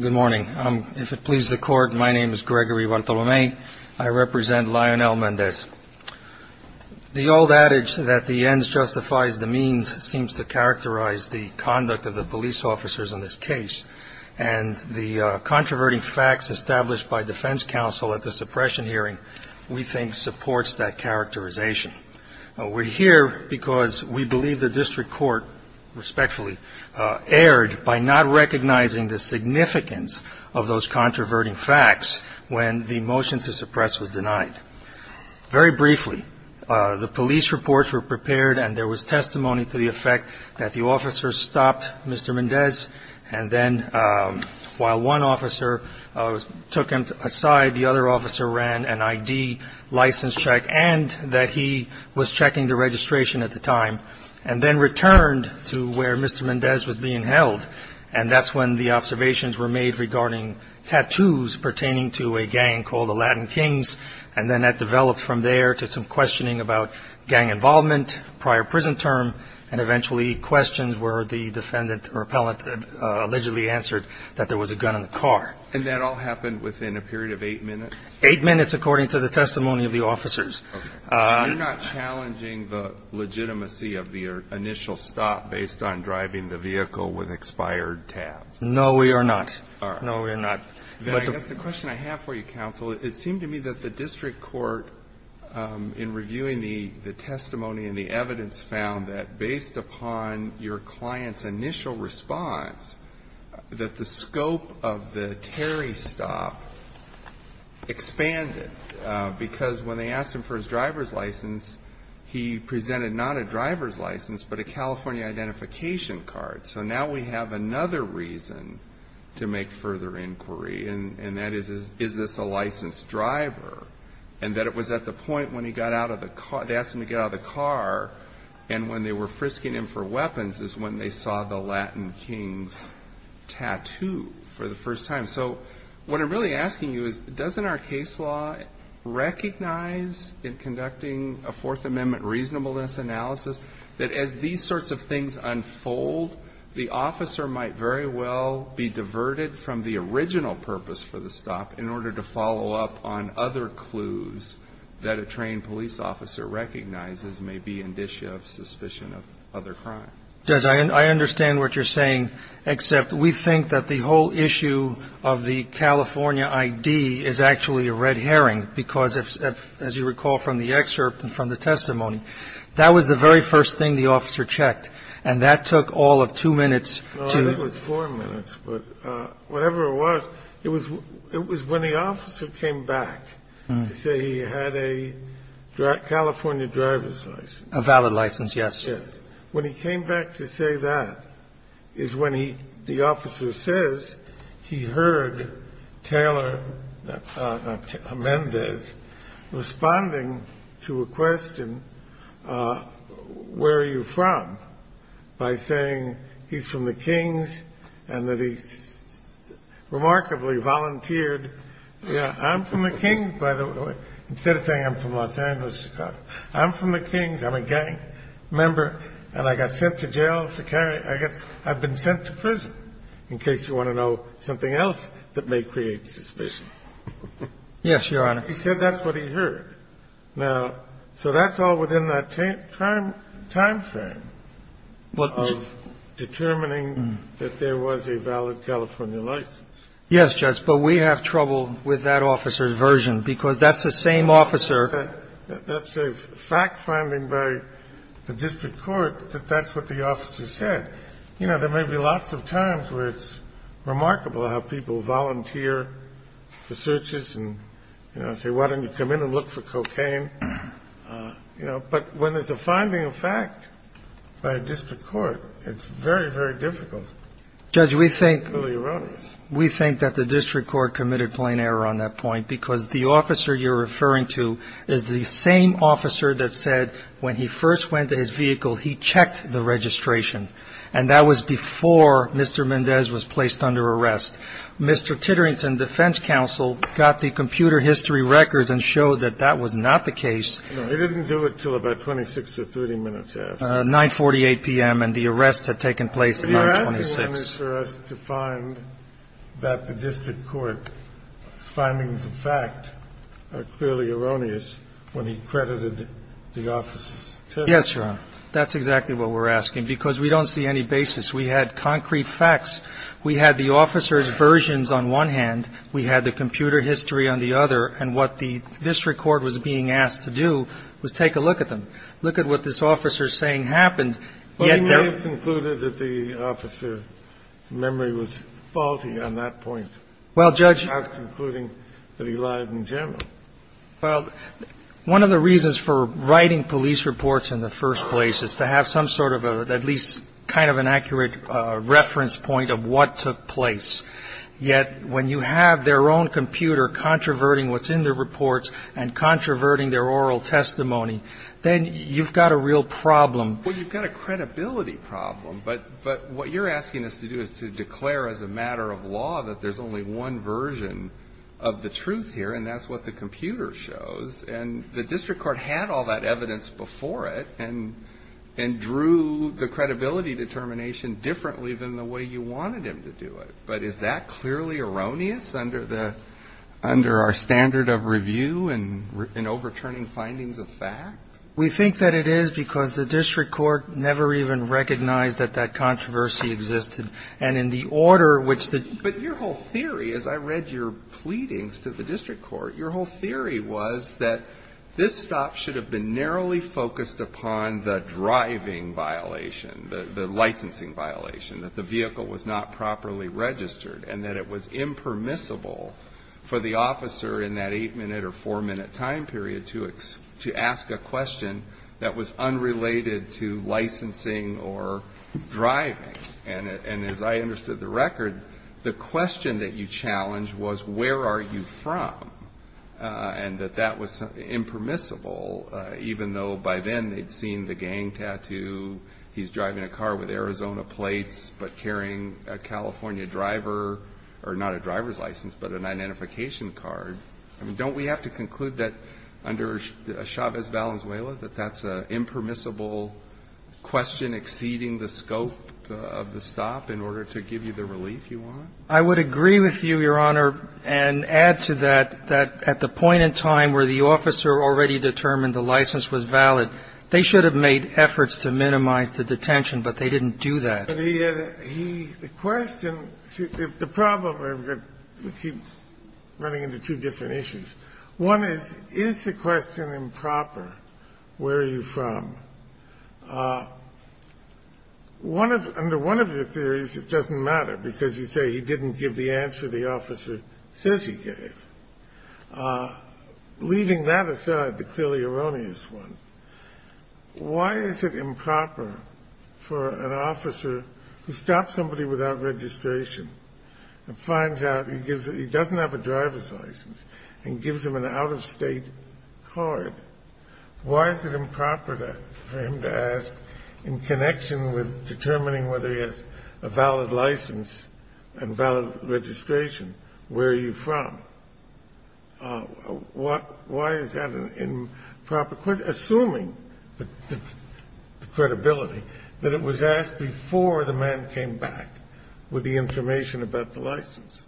Good morning. If it pleases the court, my name is Gregory Bartolome. I represent Lionel Mendez. The old adage that the ends justifies the means seems to characterize the conduct of the police officers in this case. And the controverting facts established by defense counsel at the suppression hearing, we think, supports that characterization. We're here because we believe the district court, respectfully, erred by not recognizing the significance of those controverting facts when the motion to suppress was denied. Very briefly, the police reports were prepared and there was testimony to the effect that the officer stopped Mr. Mendez, and then while one officer took him aside, the other officer ran an I.D. license check and that he was checking the registration at the time and then returned to where Mr. Mendez was being held. And that's when the observations were made regarding tattoos pertaining to a gang called the Latin Kings. And then that developed from there to some questioning about gang involvement, prior prison term, and eventually questions where the defendant or appellant allegedly answered that there was a gun in the car. And that all happened within a period of eight minutes? Eight minutes, according to the testimony of the officers. Okay. You're not challenging the legitimacy of the initial stop based on driving the vehicle with expired tabs? No, we are not. All right. No, we are not. I guess the question I have for you, counsel, it seemed to me that the district court, in reviewing the testimony and the evidence, found that based upon your client's initial response, that the scope of the Terry stop expanded, because when they asked him for his driver's license, he presented not a driver's license, but a California identification card. So now we have another reason to make further inquiry, and that is, is this a licensed driver? And that it was at the point when he got out of the car, they asked him to get out of the car, and when they were frisking him for weapons is when they saw the Latin Kings tattoo for the first time. So what I'm really asking you is, doesn't our case law recognize, in conducting a Fourth Amendment reasonableness analysis, that as these sorts of things unfold, the officer might very well be diverted from the original purpose for the stop in order to follow up on other clues that a trained police officer recognizes may be indicia of suspicion of other crime? Judge, I understand what you're saying, except we think that the whole issue of the California ID is actually a red herring, because as you recall from the excerpt and from the testimony, that was the very first thing the officer checked. And that took all of two minutes to do. It was four minutes, but whatever it was, it was when the officer came back to say he had a California driver's license. A valid license, yes. Yes. When he came back to say that is when he, the officer says he heard Taylor, not Taylor, responding to a question, where are you from, by saying he's from the Kings and that he remarkably volunteered, yes, I'm from the Kings, by the way, instead of saying I'm from Los Angeles, Chicago. I'm from the Kings. I'm a gang member, and I got sent to jail. I've been sent to prison, in case you want to know something else that may create suspicion. Yes, Your Honor. He said that's what he heard. Now, so that's all within that time frame of determining that there was a valid California license. Yes, Judge. But we have trouble with that officer's version, because that's the same officer. That's a fact finding by the district court that that's what the officer said. You know, there may be lots of times where it's remarkable how people volunteer for searches and say, why don't you come in and look for cocaine. But when there's a finding of fact by a district court, it's very, very difficult. Judge, we think that the district court committed plain error on that point, because the officer you're referring to is the same officer that said when he first went to his vehicle, he checked the registration. And that was before Mr. Mendez was placed under arrest. Mr. Titterington, defense counsel, got the computer history records and showed that that was not the case. No, he didn't do it until about 26 or 30 minutes after. 9.48 p.m. And the arrest had taken place at 9.26. But you're asking on this arrest to find that the district court's findings of fact are clearly erroneous when he credited the officer's testimony. Yes, Your Honor. That's exactly what we're asking, because we don't see any basis. We had concrete facts. We had the officer's versions on one hand. We had the computer history on the other. And what the district court was being asked to do was take a look at them, look at what this officer's saying happened. But he may have concluded that the officer's memory was faulty on that point. Well, Judge — Not concluding that he lied in general. Well, one of the reasons for writing police reports in the first place is to have some sort of at least kind of an accurate reference point of what took place. Yet when you have their own computer controverting what's in the reports and controverting their oral testimony, then you've got a real problem. Well, you've got a credibility problem. But what you're asking us to do is to declare as a matter of law that there's only one version of the truth here, and that's what the computer shows. And the district court had all that evidence before it and drew the credibility determination differently than the way you wanted him to do it. But is that clearly erroneous under the — under our standard of review and overturning findings of fact? We think that it is because the district court never even recognized that that controversy existed. And in the order which the — But your whole theory, as I read your pleadings to the district court, your whole theory was that this stop should have been narrowly focused upon the driving violation, the licensing violation, that the vehicle was not properly registered and that it was impermissible for the officer in that eight-minute or four-minute time period to ask a question that was unrelated to licensing or driving. And as I understood the record, the question that you challenged was, where are you from? And that that was impermissible, even though by then they'd seen the gang tattoo, he's driving a car with Arizona plates but carrying a California driver — or not a driver's license but an identification card. I mean, don't we have to conclude that under Chavez Valenzuela, that that's an impermissible question exceeding the scope of the stop in order to give you the relief you want? I would agree with you, Your Honor, and add to that, that at the point in time where the officer already determined the license was valid, they should have made efforts to minimize the detention, but they didn't do that. The question — the problem, and we keep running into two different issues. One is, is the question improper, where are you from? One of — under one of your theories, it doesn't matter, because you say he didn't give the answer the officer says he gave. Leaving that aside, the clearly erroneous one, why is it improper for an officer to stop somebody without registration and finds out he gives — he doesn't have a driver's license and gives him an out-of-state card? Why is it improper for him to ask, in connection with determining whether he has a valid license and valid registration, where are you from? Why is that an improper question, assuming the credibility, that it was asked before the man came back with the information about the license?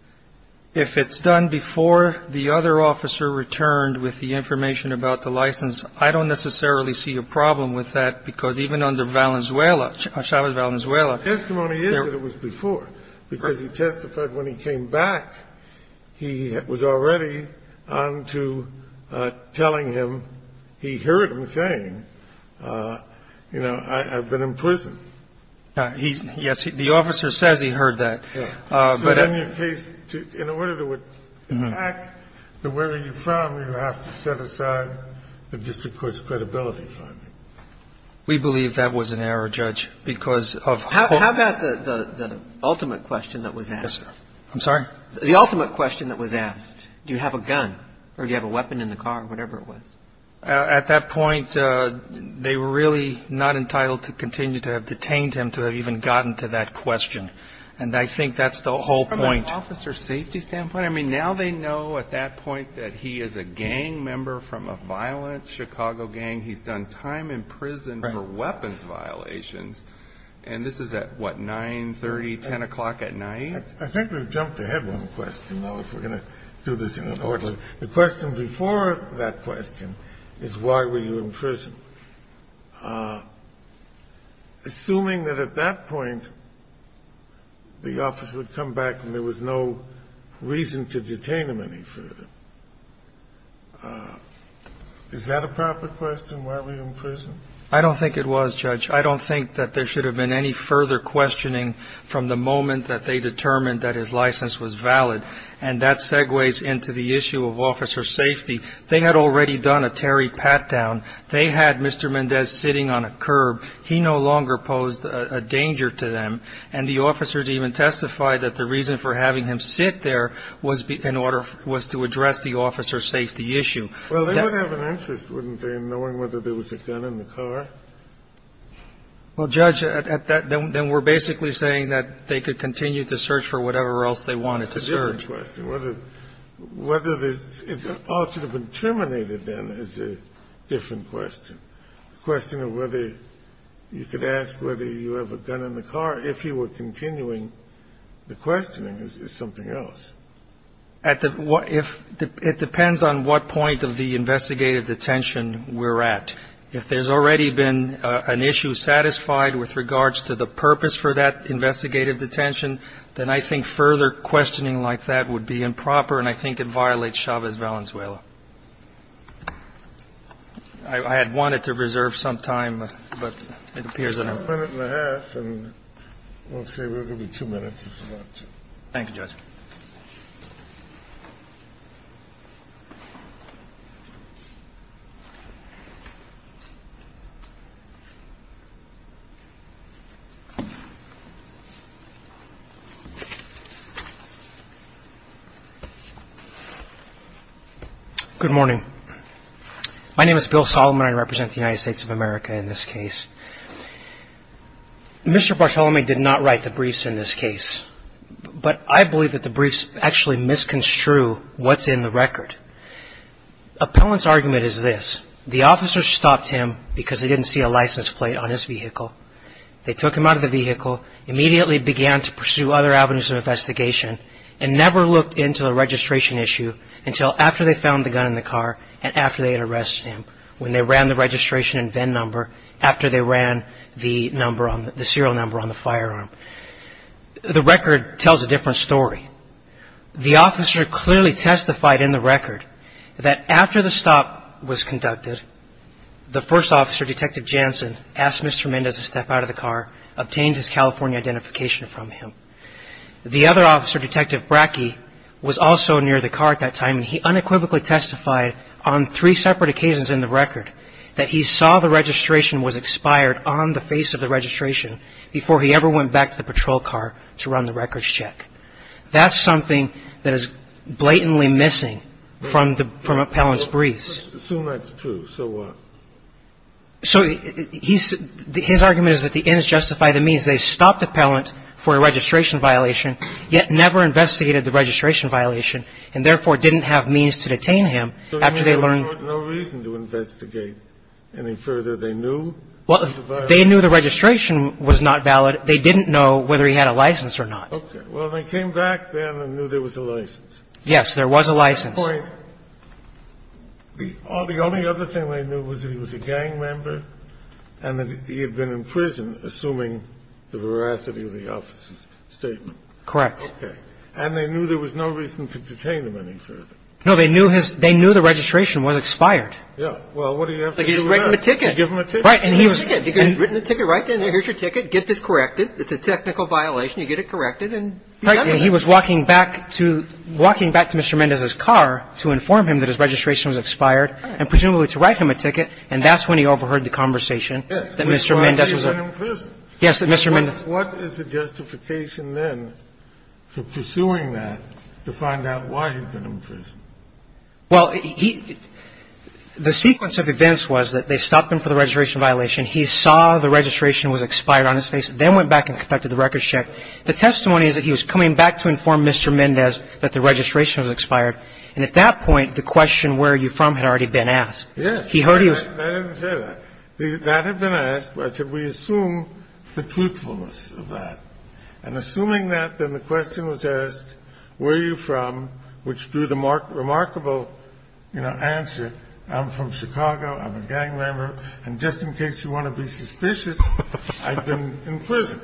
If it's done before the other officer returned with the information about the license, I don't necessarily see a problem with that, because even under Valenzuela, Chavez Valenzuela — The testimony is that it was before, because he testified when he came back, he was already on to telling him — he heard him saying, you know, I've been in prison. Yes, the officer says he heard that. So in your case, in order to attack the whether you're from, you have to set aside the district court's credibility finding. We believe that was an error, Judge, because of — How about the ultimate question that was asked? I'm sorry? The ultimate question that was asked. Do you have a gun or do you have a weapon in the car, whatever it was? At that point, they were really not entitled to continue to have detained him to have even gotten to that question. And I think that's the whole point. From an officer's safety standpoint? I mean, now they know at that point that he is a gang member from a violent Chicago gang. He's done time in prison for weapons violations. And this is at, what, 9, 30, 10 o'clock at night? I think we've jumped ahead one question, though, if we're going to do this in order. The question before that question is, why were you in prison? Assuming that at that point, the officer would come back and there was no reason to detain him any further. Is that a proper question, why were you in prison? I don't think it was, Judge. I don't think that there should have been any further questioning from the moment that they determined that his license was valid. And that segues into the issue of officer safety. They had already done a Terry Patdown. They had Mr. Mendez sitting on a curb. He no longer posed a danger to them. And the officers even testified that the reason for having him sit there was in order to address the officer safety issue. Well, they would have an interest, wouldn't they, in knowing whether there was a gun in the car? Well, Judge, at that point, then we're basically saying that they could continue to search for whatever else they wanted to search. It's a different question. Whether the officer would have been terminated, then, is a different question. The question of whether you could ask whether you have a gun in the car, if he were continuing the questioning, is something else. At the one – it depends on what point of the investigative detention we're at. If there's already been an issue satisfied with regards to the purpose for that question, then that would be improper, and I think it violates Chavez-Valenzuela. I had wanted to reserve some time, but it appears that I'm not. Thank you, Judge. Good morning. My name is Bill Solomon. I represent the United States of America in this case. Mr. Barthelemy did not write the briefs in this case, but I believe that the briefs actually misconstrued what's in the record. Appellant's argument is this. The officer stopped him because they didn't see a license plate on his vehicle. They took him out of the vehicle, immediately began to pursue other avenues of investigation, and never looked into the registration issue until after they found the gun in the car and after they had arrested him, when they ran the registration and VIN number after they ran the serial number on the firearm. The record tells a different story. The officer clearly testified in the record that after the stop was conducted, the first officer, Detective Jansen, asked Mr. Mendez to step out of the car, obtained his California identification from him. The other officer, Detective Brackey, was also near the car at that time, and he unequivocally testified on three separate occasions in the record that he saw the registration was expired on the face of the registration before he ever went back to the patrol car to run the records check. That's something that is blatantly missing from Appellant's briefs. Assume that's true. So what? So his argument is that the inns justified the means. They stopped Appellant for a registration violation, yet never investigated the registration violation, and therefore didn't have means to detain him after they learned the reason to investigate any further. They knew the registration was not valid. They didn't know whether he had a license or not. Okay. Well, they came back then and knew there was a license. Yes. There was a license. The only other thing they knew was that he was a gang member and that he had been in prison, assuming the veracity of the officer's statement. Correct. Okay. And they knew there was no reason to detain him any further. No. They knew his – they knew the registration was expired. Well, what do you have to do then? Like, you just write him a ticket. You give him a ticket. Right. And he was – You give him a ticket. You've written the ticket right there. Here's your ticket. Get this corrected. It's a technical violation. You get it corrected and you're done. Right. And he was walking back to – walking back to Mr. Mendez's car to inform him that his registration was expired and presumably to write him a ticket, and that's when he overheard the conversation that Mr. Mendez was in prison. Yes. Mr. Mendez. What is the justification then for pursuing that to find out why he'd been in prison? Well, he – the sequence of events was that they stopped him for the registration violation. He saw the registration was expired on his face and then went back and conducted the record check. The testimony is that he was coming back to inform Mr. Mendez that the registration was expired, and at that point, the question, where are you from, had already been asked. Yes. I didn't say that. That had been asked. I said, we assume the truthfulness of that. And assuming that, then the question was asked, where are you from, which drew the remarkable, you know, answer, I'm from Chicago, I'm a gang member, and just in case you want to be suspicious, I've been in prison.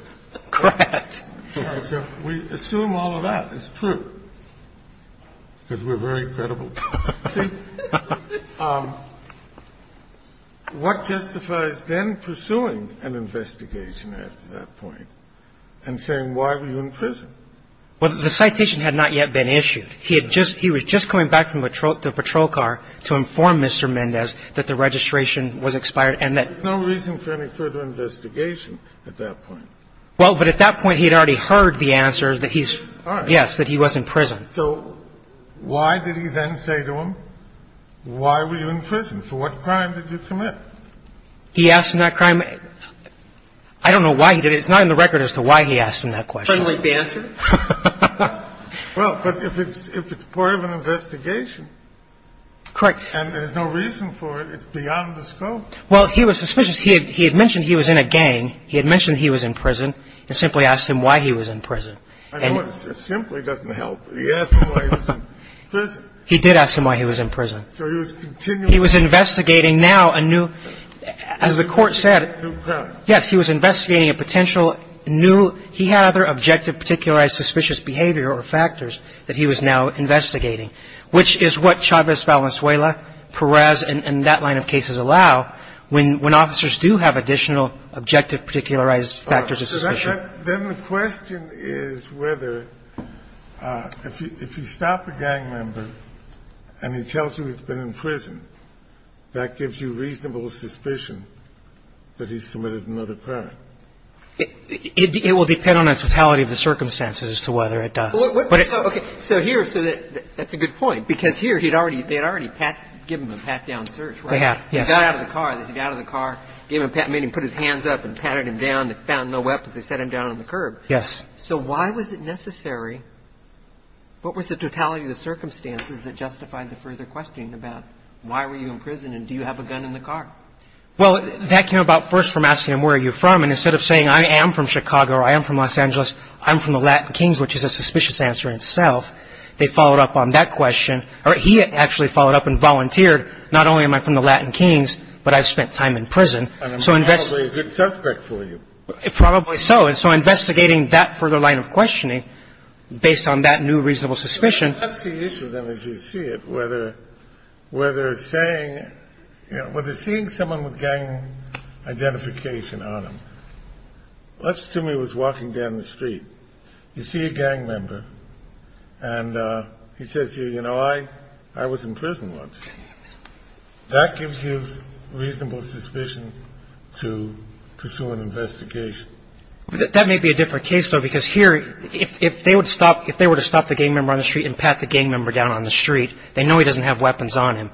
Correct. I said, we assume all of that is true because we're very credible. So what justifies then pursuing an investigation after that point and saying why were you in prison? Well, the citation had not yet been issued. He had just – he was just coming back from the patrol car to inform Mr. Mendez that the registration was expired and that – There's no reason for any further investigation at that point. Well, but at that point, he had already heard the answer that he's – All right. Yes, that he was in prison. So why did he then say to him, why were you in prison, for what crime did you commit? He asked him that crime. I don't know why he did it. It's not in the record as to why he asked him that question. I don't like the answer. Well, but if it's part of an investigation. Correct. And there's no reason for it. It's beyond the scope. Well, he was suspicious. He had mentioned he was in a gang. He had mentioned he was in prison and simply asked him why he was in prison. I know it simply doesn't help, but he asked him why he was in prison. He did ask him why he was in prison. So he was continually – He was investigating now a new – as the Court said – A new crime. Yes. He was investigating a potential new – he had other objective particularized suspicious behavior or factors that he was now investigating, which is what Chavez Valenzuela, Perez, and that line of cases allow when officers do have additional objective particularized factors of suspicion. Then the question is whether if you stop a gang member and he tells you he's been in prison, that gives you reasonable suspicion that he's committed another crime. It will depend on the totality of the circumstances as to whether it does. Okay. So here – so that's a good point, because here he had already – they had already given him a pat-down search, right? They had, yes. He got out of the car. They said he got out of the car, gave him a pat – made him put his hands up and patted him down. They found no weapons. They sat him down on the curb. Yes. So why was it necessary – what was the totality of the circumstances that justified the further questioning about why were you in prison and do you have a gun in the car? Well, that came about first from asking him where are you from, and instead of saying I am from Chicago or I am from Los Angeles, I'm from the Latin Kings, which is a suspicious answer in itself. They followed up on that question – or he actually followed up and volunteered, not only am I from the Latin Kings, but I've spent time in prison. And I'm probably a good suspect for you. Probably so. And so investigating that further line of questioning based on that new reasonable suspicion – That's the issue, then, as you see it, whether saying – whether seeing someone with gang identification on them – let's assume he was walking down the street. You see a gang member, and he says to you, you know, I was in prison once. That gives you reasonable suspicion to pursue an investigation. That may be a different case, though, because here if they were to stop the gang member on the street and pat the gang member down on the street, they know he doesn't have weapons on him.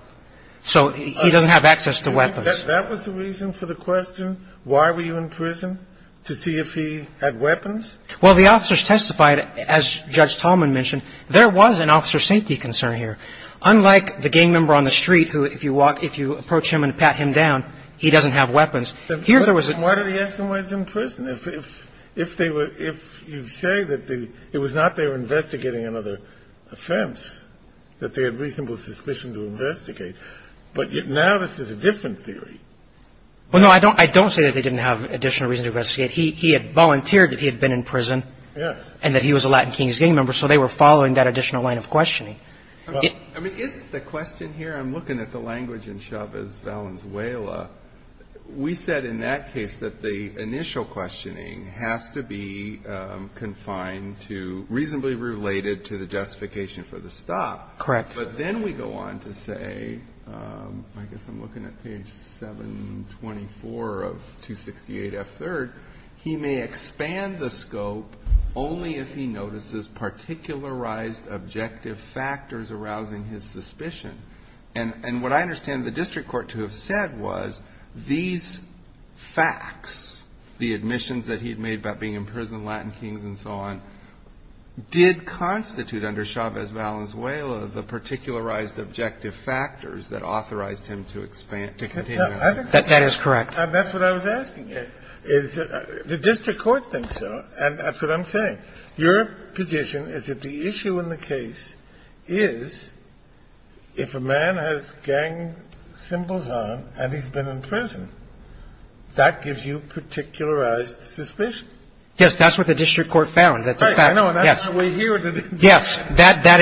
So he doesn't have access to weapons. That was the reason for the question, why were you in prison, to see if he had weapons? Well, the officers testified, as Judge Tallman mentioned, there was an officer's safety concern here. Unlike the gang member on the street who, if you approach him and pat him down, he doesn't have weapons. Why did he ask them why he was in prison? If you say that it was not their investigating another offense, that they had reasonable suspicion to investigate. But now this is a different theory. Well, no, I don't say that they didn't have additional reason to investigate. He had volunteered that he had been in prison. Yes. So they were following that additional line of questioning. I mean, isn't the question here, I'm looking at the language in Chavez-Valenzuela, we said in that case that the initial questioning has to be confined to reasonably related to the justification for the stop. Correct. But then we go on to say, I guess I'm looking at page 724 of 268F3rd, he may expand the scope only if he notices particularized objective factors arousing his suspicion. And what I understand the district court to have said was these facts, the admissions that he had made about being in prison, Latin kings and so on, did constitute under Chavez-Valenzuela the particularized objective factors that authorized him to expand, to continue. That is correct. And that's what I was asking you. The district court thinks so, and that's what I'm saying. Your position is that the issue in the case is if a man has gang symbols on and he's been in prison, that gives you particularized suspicion. Yes. That's what the district court found. Right. I know, and that's how we're here today. Yes. That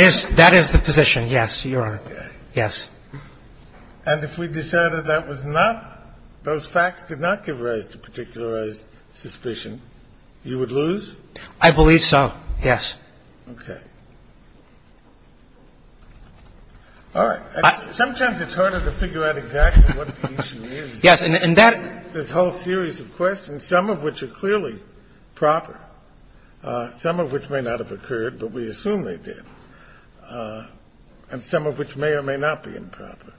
is the position. Yes, Your Honor. Okay. Yes. And if we decided that was not, those facts did not give rise to particularized suspicion, you would lose? I believe so, yes. Okay. All right. Sometimes it's harder to figure out exactly what the issue is. Yes, and that's the whole series of questions, some of which are clearly proper, some of which may not have occurred, but we assume they did, and some of which may or may not be improper.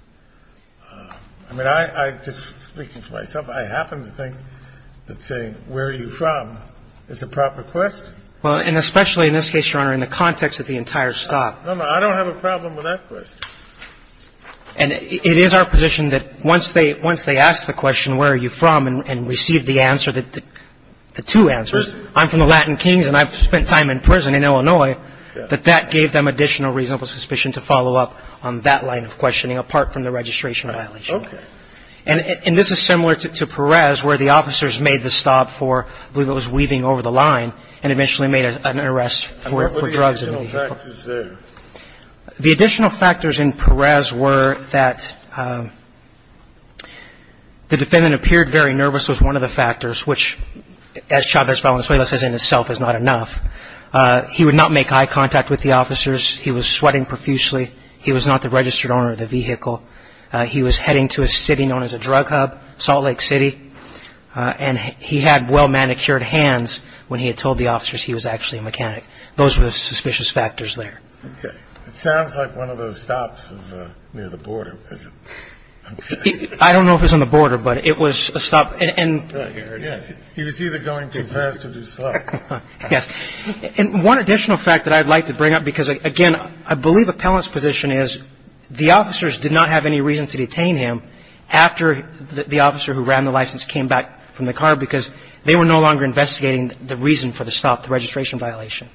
I mean, I just, speaking for myself, I happen to think that saying where are you from is a proper question. Well, and especially in this case, Your Honor, in the context of the entire stop. No, no. I don't have a problem with that question. And it is our position that once they ask the question where are you from and receive the answer, the two answers, I'm from the Latin Kings and I've spent time in prison and in Illinois, that that gave them additional reasonable suspicion to follow up on that line of questioning apart from the registration violation. Okay. And this is similar to Perez where the officers made the stop for, I believe it was weaving over the line, and eventually made an arrest for drugs. What are the additional factors there? The additional factors in Perez were that the defendant appeared very nervous was he would not make eye contact with the officers. He was sweating profusely. He was not the registered owner of the vehicle. He was heading to a city known as a drug hub, Salt Lake City. And he had well-manicured hands when he had told the officers he was actually a mechanic. Those were the suspicious factors there. Okay. It sounds like one of those stops near the border. I don't know if it was on the border, but it was a stop. He was either going too fast or too slow. Yes. And one additional fact that I'd like to bring up because, again, I believe Appellant's position is the officers did not have any reason to detain him after the officer who ran the license came back from the car because they were no longer investigating the reason for the stop, the registration violation.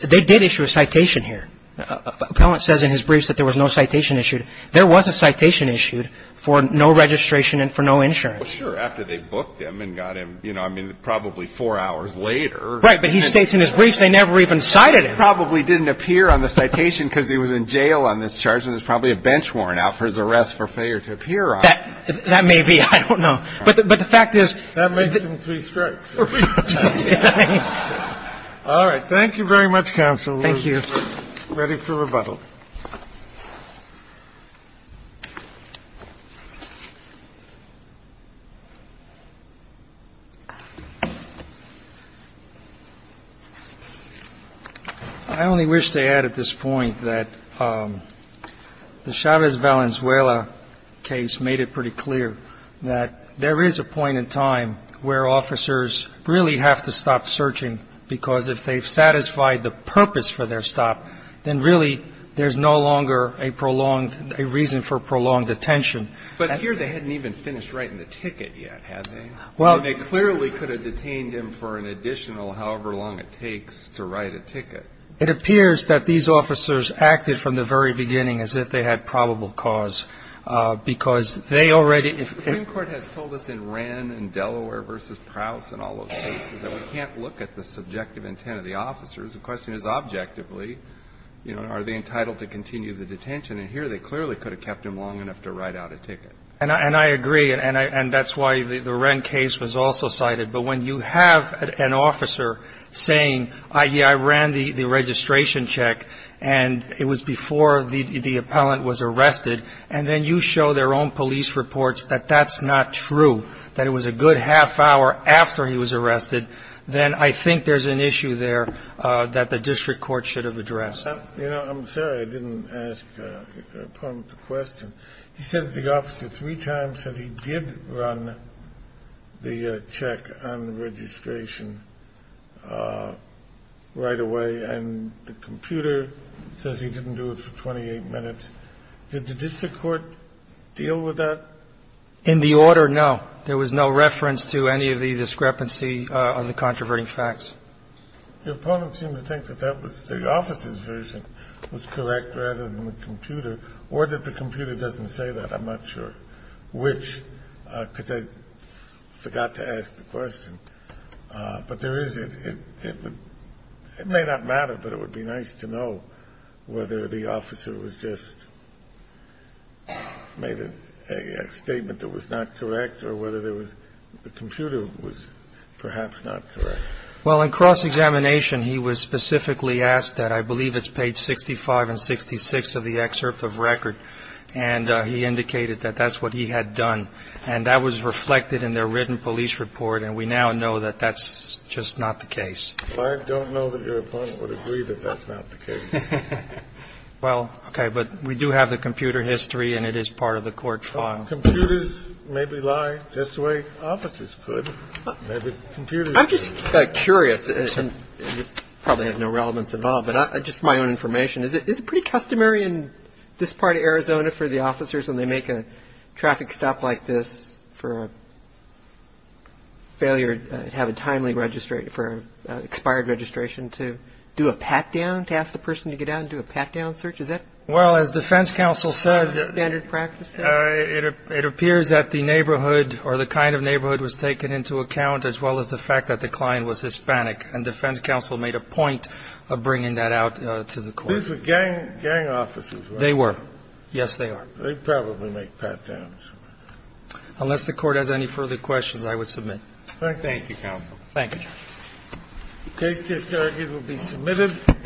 They did issue a citation here. Appellant says in his briefs that there was no citation issued. There was a citation issued for no registration and for no insurance. Well, sure, after they booked him and got him, you know, I mean, probably four hours later. Right. But he states in his briefs they never even cited him. Probably didn't appear on the citation because he was in jail on this charge, and there's probably a bench warrant out for his arrest for failure to appear on it. That may be. I don't know. But the fact is. That makes them three strikes. Three strikes. All right. Thank you very much, counsel. Thank you. We're ready for rebuttal. I only wish to add at this point that the Chavez-Valenzuela case made it pretty clear that there is a point in time where officers really have to stop searching because if they've satisfied the purpose for their stop, then really there's no longer a prolonged, a reason for prolonged detention. But here they hadn't even finished writing the ticket yet, had they? Well. They clearly could have detained him for an additional however long it takes to write a ticket. It appears that these officers acted from the very beginning as if they had probable cause because they already. The Supreme Court has told us in Wren and Delaware v. Prowse and all those cases that we can't look at the subjective intent of the officers. The question is objectively, you know, are they entitled to continue the detention? And here they clearly could have kept him long enough to write out a ticket. And I agree. And that's why the Wren case was also cited. But when you have an officer saying, yeah, I ran the registration check and it was before the appellant was arrested, and then you show their own police reports that that's not true, that it was a good half hour after he was arrested, then I think there's an issue there that the district court should have addressed. You know, I'm sorry I didn't ask the question. He said that the officer three times said he did run the check on registration right away, and the computer says he didn't do it for 28 minutes. Did the district court deal with that? In the order, no. There was no reference to any of the discrepancy of the controverting facts. The opponent seemed to think that that was the officer's version was correct rather than the computer, or that the computer doesn't say that. I'm not sure which, because I forgot to ask the question. But there is a – it may not matter, but it would be nice to know whether the officer was just made a statement that was not correct or whether there was – the computer was perhaps not correct. Well, in cross-examination, he was specifically asked that. I believe it's page 65 and 66 of the excerpt of record. And he indicated that that's what he had done. And that was reflected in their written police report, and we now know that that's just not the case. Well, okay. But we do have the computer history, and it is part of the court file. Computers maybe lie just the way officers could. Maybe computers – I'm just curious, and this probably has no relevance at all, but just for my own information, is it pretty customary in this part of Arizona for the officers when they make a traffic stop like this for a failure to have a timely – for expired registration to do a pat-down to ask the person to get out and do a pat-down search? Is that – Well, as defense counsel said – Is that standard practice there? It appears that the neighborhood or the kind of neighborhood was taken into account as well as the fact that the client was Hispanic, and defense counsel made a point of bringing that out to the court. These were gang officers, right? They were. Yes, they are. They probably make pat-downs. Unless the court has any further questions, I would submit. Thank you. Thank you, counsel. Thank you, Judge. The case just argued will be submitted.